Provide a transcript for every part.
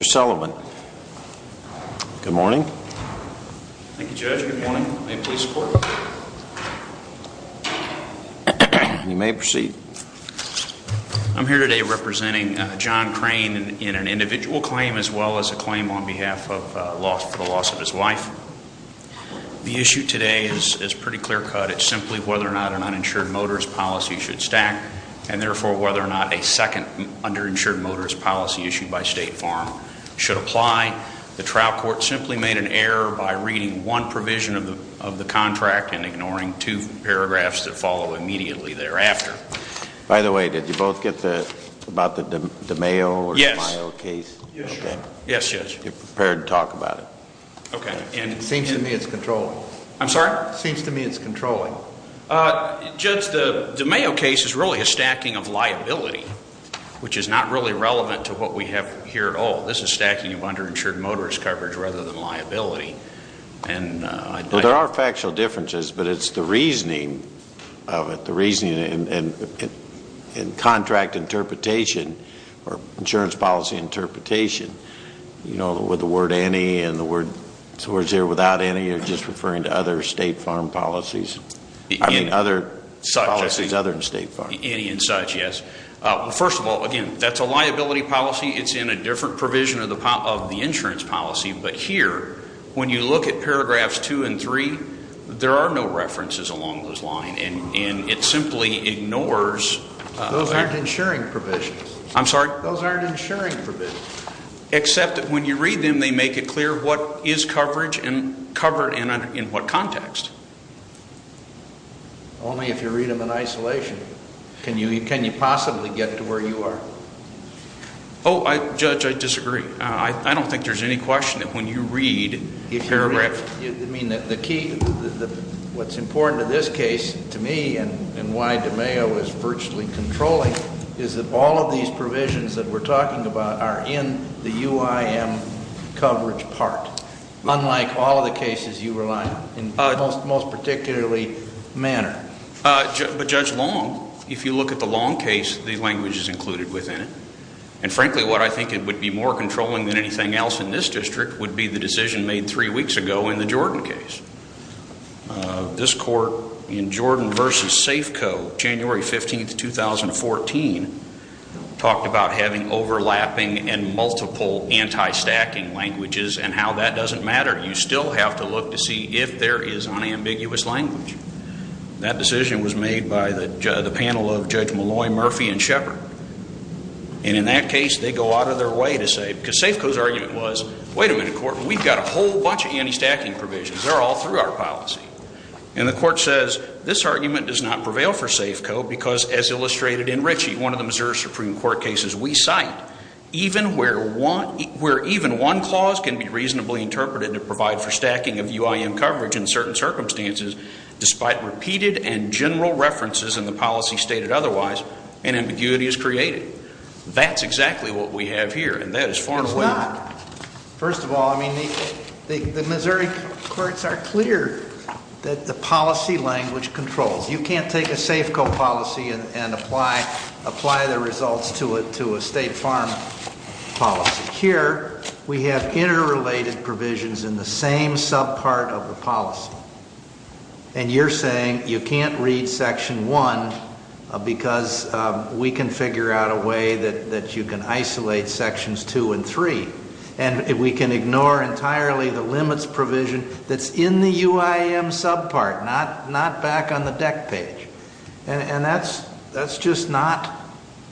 I'm here today representing John Crain in an individual claim as well as a claim on behalf of the loss of his wife. The issue today is pretty clear cut. It's simply whether or not an uninsured motorist policy should stack and therefore whether or not a second underinsured motorist policy issued by State Farm should apply. The trial court simply made an error by reading one provision of the contract and ignoring two paragraphs that follow immediately thereafter. By the way, did you both get the, about the DeMayo or DeMayo case? Yes, Judge. You're prepared to talk about it? Okay. It seems to me it's controlling. I'm sorry? It seems to me it's controlling. Judge, the DeMayo case is really a stacking of liability, which is not really relevant to what we have here at all. This is stacking of underinsured motorist coverage rather than liability. Well, there are factual differences, but it's the reasoning of it, the reasoning in contract interpretation or insurance policy interpretation, you know, with the word any and the words here without any are just referring to other State Farm policies. I mean, other policies other than State Farm. Any and such, yes. Well, first of all, again, that's a liability policy. It's in a different provision of the insurance policy, but here when you look at paragraphs two and three, there are no references along those lines, and it simply ignores Those aren't insuring provisions. I'm sorry? Those aren't insuring provisions. Except when you read them, they make it clear what is coverage and covered in what context. Only if you read them in isolation. Can you possibly get to where you are? Oh, Judge, I disagree. I don't think there's any question that when you read paragraphs... I mean, the key, what's important to this case to me and why DeMayo is virtually controlling is that all of these provisions that we're talking about are in the UIM coverage part, unlike all of the cases you were lying in most particularly manner. But Judge Long, if you look at the Long case, the language is included within it. And frankly, what I think it would be more controlling than anything else in this district would be the decision made three weeks ago in the Jordan case. This court in Jordan versus Safeco, January 15th, 2014, talked about having overlapping and multiple anti-stacking languages and how that doesn't matter. You still have to look to see if there is unambiguous language. That decision was made by the panel of Judge Malloy, Murphy, and Shepard. And in that case, they go out of their way to say, because Safeco's argument was, wait a minute, Court, we've got a whole bunch of anti-stacking provisions. They're all through our policy. And the court says, this argument does not prevail for Safeco because, as illustrated in Ritchie, one of the Missouri Supreme Court cases we cite, even where even one clause can be reasonably interpreted to provide for stacking of UIM coverage in certain circumstances, despite repeated and general references in the policy stated otherwise, an ambiguity is created. That's exactly what we have here. And that is far away. It's not. First of all, I mean, the Missouri courts are clear that the policy language controls. You can't take a Safeco policy and apply the results to a state farm policy. Here, we have interrelated provisions in the same subpart of the policy. And you're saying you can't read section one because we can figure out a way that you can isolate sections two and three. And we can ignore entirely the limits provision that's in the UIM subpart, not back on the deck page. And that's just not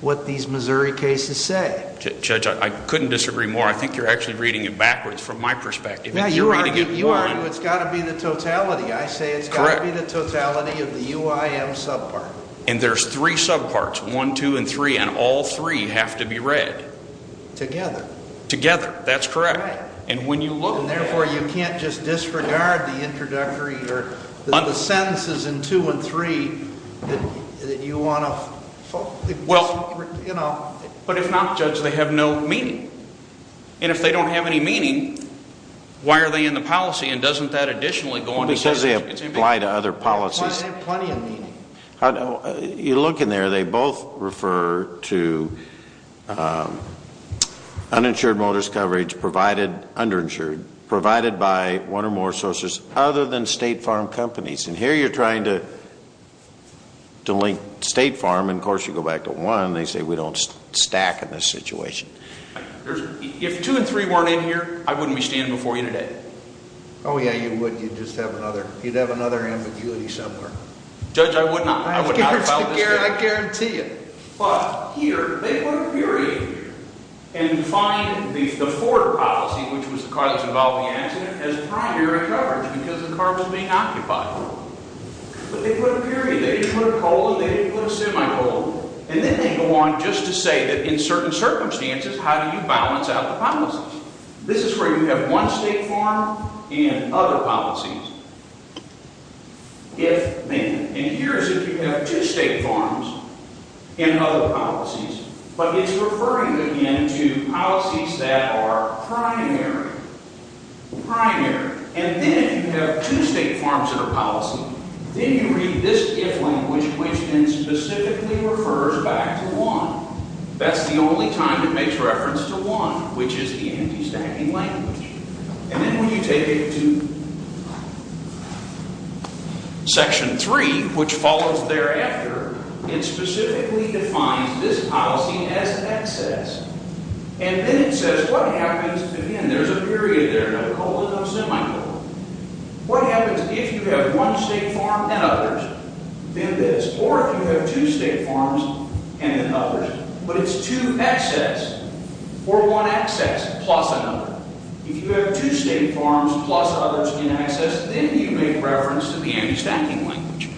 what these Missouri cases say. Judge, I couldn't disagree more. I think you're actually reading it backwards from my perspective. You're arguing it's got to be the totality. I say it's got to be the totality of the UIM subpart. And there's three subparts, one, two, and three, and all three have to be read. Together. Together. That's correct. And when you look... The sentences in two and three that you want to... But if not, Judge, they have no meaning. And if they don't have any meaning, why are they in the policy? And doesn't that additionally go on to say... Because they apply to other policies. Why is there plenty of meaning? You look in there, they both refer to uninsured motors coverage provided, underinsured, provided by one or more sources other than state farm companies. And here you're trying to link state farm, and of course you go back to one, and they say we don't stack in this situation. If two and three weren't in here, I wouldn't be standing before you today. Oh yeah, you would. You'd just have another ambiguity somewhere. Judge, I would not file this case. I guarantee you. But here, they put a period, and find the forward policy, which was the car that's involved in the accident, as primary coverage, because the car was being occupied. But they put a period, they didn't put a colon, they didn't put a semicolon. And then they go on just to say that in certain circumstances, how do you balance out the policies? This is where you have one state farm and other policies. If, then. And here's if you have two state farms and other policies, but it's referring again to policies that are primary. Primary. And then if you have two state farms in a policy, then you read this if language, which then specifically refers back to one. That's the only time it makes reference to one, which is the anti-stacking language. And then when you take it to Section 3, which follows thereafter, it specifically defines this policy as excess. And then it says what happens, again, there's a period there, no colon, no semicolon. What happens if you have one state farm and others? Then this. Or if you have two state farms and then others, but it's two excess, or one excess, plus another. If you have two state farms plus others in excess, then you make reference to the anti-stacking language.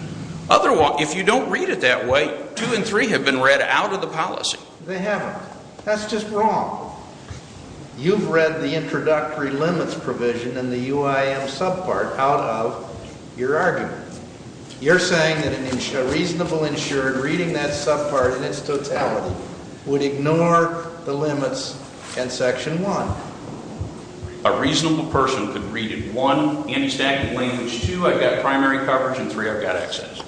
Otherwise, if you don't read it that way, two and three have been read out of the policy. They haven't. That's just wrong. You've read the introductory limits provision in the UIM subpart out of your argument. You're saying that a reasonable insured reading that subpart in its totality would ignore the limits in Section 1? A reasonable person could read it, one, anti-stacking language, two, I've got primary coverage, and three, I've got excess.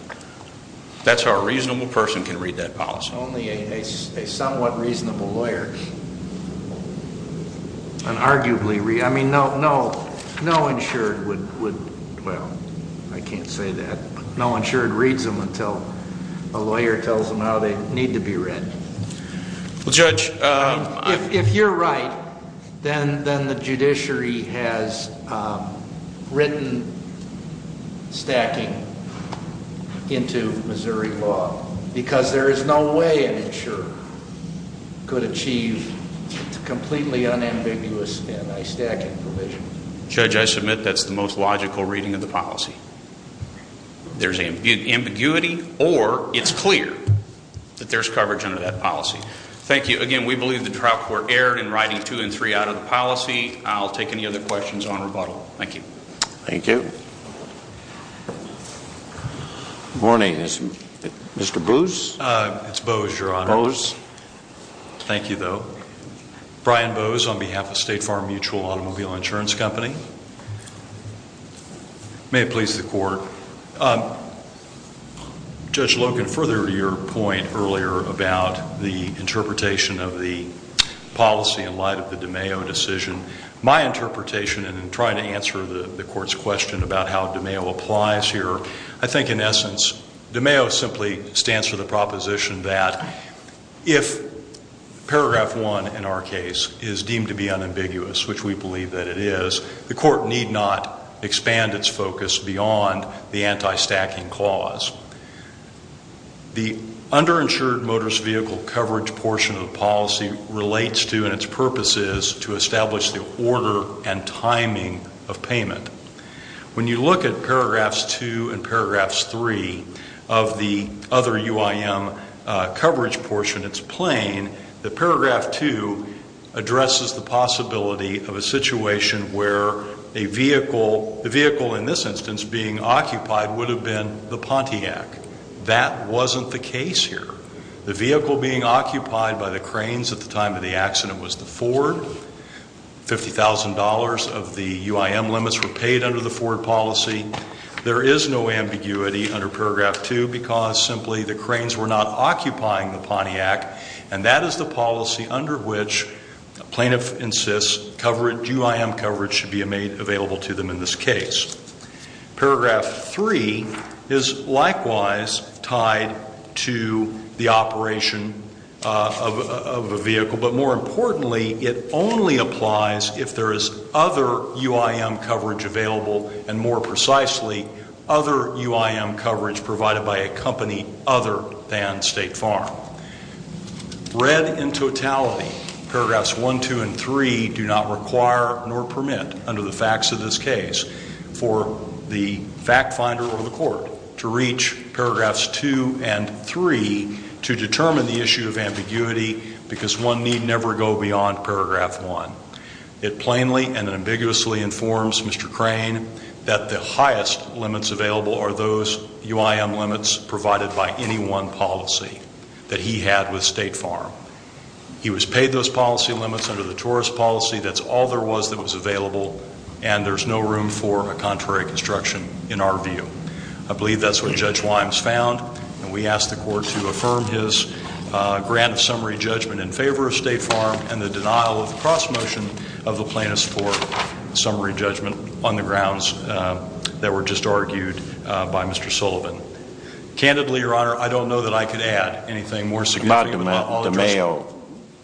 That's how a reasonable person can read that policy? Only a somewhat reasonable lawyer can arguably read it. I mean, no insured would, well, I can't say that, but no insured reads them until a lawyer tells them how they need to be read. If you're right, then the judiciary has written stacking into Missouri law because there is no way an insurer could achieve a completely unambiguous anti-stacking provision. Judge, I submit that's the most logical reading of the policy. There's ambiguity or it's clear that there's coverage under that policy. Thank you. Again, we believe the trial court erred in writing two and three out of the policy. I'll take any other questions on rebuttal. Thank you. Thank you. Good morning. Is Mr. Bose? It's Bose, Your Honor. Bose. Thank you, though. Brian Bose on behalf of State Farm Mutual Automobile Insurance Company. May it please the court. Judge Logan, further to your point earlier about the interpretation of the policy in light of the DeMeo decision, my interpretation, and in trying to answer the court's question about how DeMeo applies here, I think, in essence, DeMeo simply stands for the proposition that if paragraph one in our case is deemed to be unambiguous, which we believe that it is, the court need not expand its focus beyond the anti-stacking clause. The underinsured motorist vehicle coverage portion of the policy relates to and its purpose is to establish the order and timing of payment. When you look at paragraphs two and paragraphs three of the other UIM coverage portion, it's plain that paragraph two addresses the possibility of a situation where the vehicle in this instance being occupied would have been the Pontiac. That wasn't the case here. The vehicle being occupied by the cranes at the time of the accident was the Ford. $50,000 of the UIM limits were paid under the Ford policy. There is no ambiguity under paragraph two because simply the cranes were not occupying the Pontiac and that is the policy under which plaintiff insists UIM coverage should be made available to them in this case. Paragraph three is likewise tied to the operation of a vehicle, but more importantly it only applies if there is other UIM coverage available and more precisely other UIM coverage provided by a company other than State Farm. Read in totality, paragraphs one, two, and three do not require nor permit under the facts of this case for the fact finder or the court to reach paragraphs two and three to determine the issue of ambiguity because one need never go beyond paragraph one. It plainly and ambiguously informs Mr. Crane that the highest limits available are those UIM limits provided by any one policy that he had with State Farm. He was paid those policy limits under the tourist policy. That's all there was that was available and there's no room for a contrary construction in our view. I believe that's what Judge Wimes found and we ask the court to affirm his grant of summary judgment in favor of State Farm and the denial of the cross motion of the plaintiffs for summary judgment on the grounds that were just argued by Mr. Sullivan. Candidly, Your Honor, I don't know that I could add anything more significant. What about de Mayo?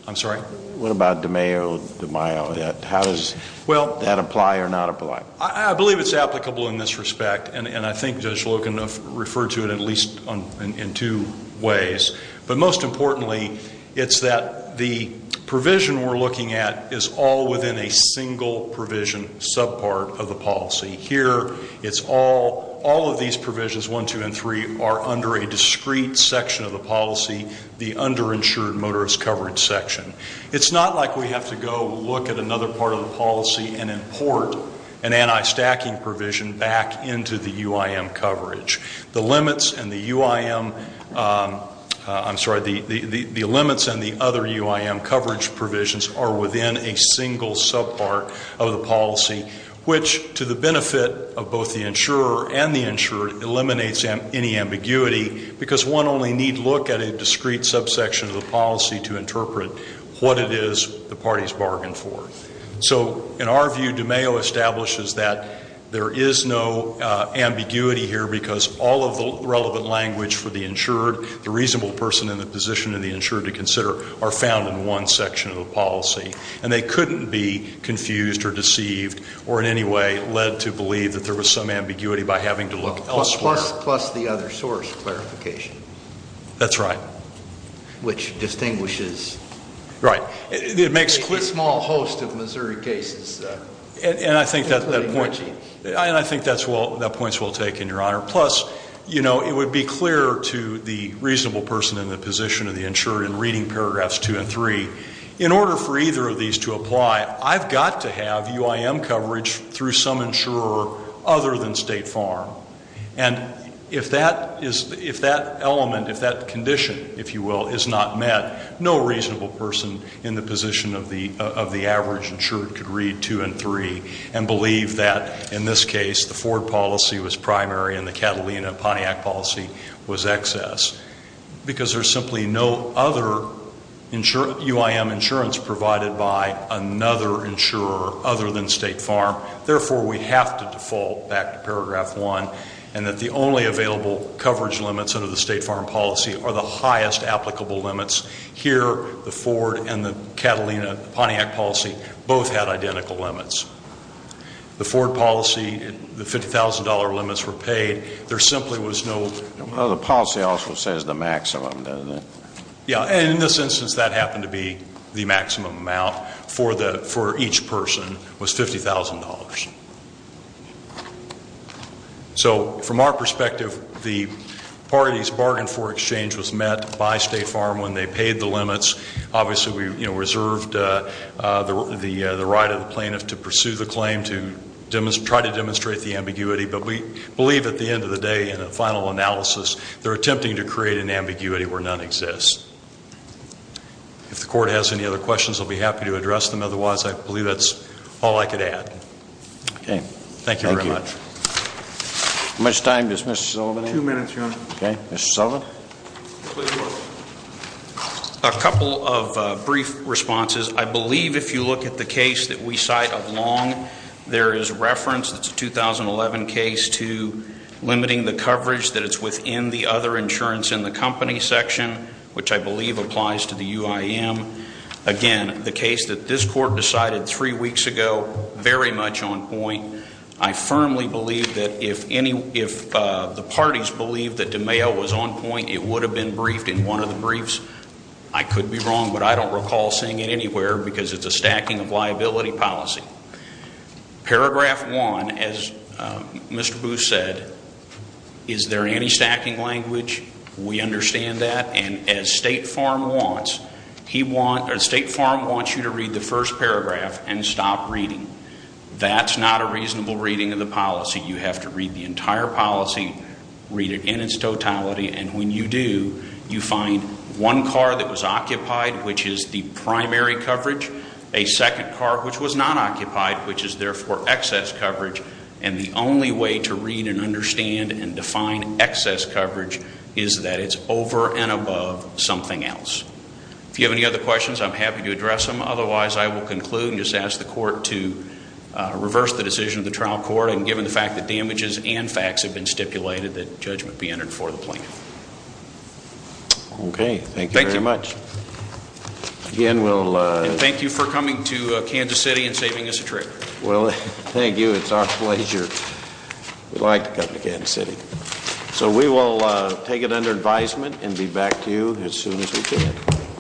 I'm sorry? What about de Mayo, de Mayo? How does that apply or not apply? I believe it's applicable in this respect and I think Judge Logan referred to it at least in two ways. But most importantly, it's that the provision we're looking at is all within a single provision subpart of the policy. Here, it's all of these provisions, one, two, and three are under a discrete section of the policy, the underinsured motorist coverage section. It's not like we have to go look at another part of the policy and import an anti-stacking provision back into the UIM coverage. The limits and the UIM, I'm sorry, the limits and the other UIM coverage provisions are within a single subpart of the policy, which, to the benefit of both the insurer and the insured, eliminates any ambiguity because one only need look at a discrete subsection of the policy to interpret what it is the parties bargained for. So, in our view, de Mayo establishes that there is no ambiguity here because all of the relevant language for the insured, the reasonable person in the position of the insured to consider, are found in one section of the policy. And they couldn't be confused or deceived or in any way led to believe that there was some ambiguity by having to look elsewhere. Plus the other source clarification. That's right. Which distinguishes... Right. ...a small host of Missouri cases. And I think that point is well taken, Your Honor. Plus, you know, it would be clear to the reasonable person in the position of the insured in reading paragraphs two and three, in order for either of these to apply, I've got to have UIM coverage through some insurer other than State Farm. And if that element, if that condition, if you will, is not met, no reasonable person in the position of the average insured could read two and three and believe that, in this case, the Ford policy was primary and the Catalina-Pontiac policy was excess. Because there's simply no other UIM insurance provided by another insurer other than State Farm. Therefore, we have to default back to paragraph one and that the only available coverage limits under the State Farm policy are the highest applicable limits Here, the Ford and the Catalina-Pontiac policy both had identical limits. The Ford policy, the $50,000 limits were paid. There simply was no... Well, the policy also says the maximum, doesn't it? Yeah, and in this instance, that happened to be the maximum amount for each person was $50,000. So, from our perspective, the parties bargained for exchange was met by State Farm when they paid the limits. Obviously, we reserved the right of the plaintiff to pursue the claim to try to demonstrate the ambiguity. But we believe, at the end of the day, in a final analysis, they're attempting to create an ambiguity where none exists. If the court has any other questions, I'll be happy to address them. Otherwise, I believe that's all I could add. Okay. Thank you very much. Thank you. How much time does Mr. Sullivan have? Two minutes, Your Honor. Okay. Mr. Sullivan? Please, Your Honor. A couple of brief responses. I believe if you look at the case that we cite of Long, there is reference, it's a 2011 case, to limiting the coverage that it's within the other insurance in the company section, which I believe applies to the UIM. Again, the case that this court decided three weeks ago, very much on point. I firmly believe that if any... believe that DeMayo was on point, it would have been briefed in one of the briefs. I could be wrong, but I don't recall seeing it anywhere because it's a stacking of liability policy. Paragraph one, as Mr. Booth said, is there any stacking language? We understand that. And as State Farm wants, State Farm wants you to read the first paragraph and stop reading. That's not a reasonable reading of the policy. You have to read the entire policy, read it in its totality, and when you do, you find one car that was occupied, which is the primary coverage, a second car which was not occupied, which is therefore excess coverage, and the only way to read and understand and define excess coverage is that it's over and above something else. If you have any other questions, I'm happy to address them. Otherwise, I will conclude and just ask the court to reverse the decision of the trial court and given the fact that damages and facts have been stipulated, that judgment be entered for the plaintiff. Okay. Thank you very much. Thank you. Again, we'll... And thank you for coming to Kansas City and saving us a trip. Well, thank you. It's our pleasure. We like to come to Kansas City. So we will take it under advisement and be back to you as soon as we can.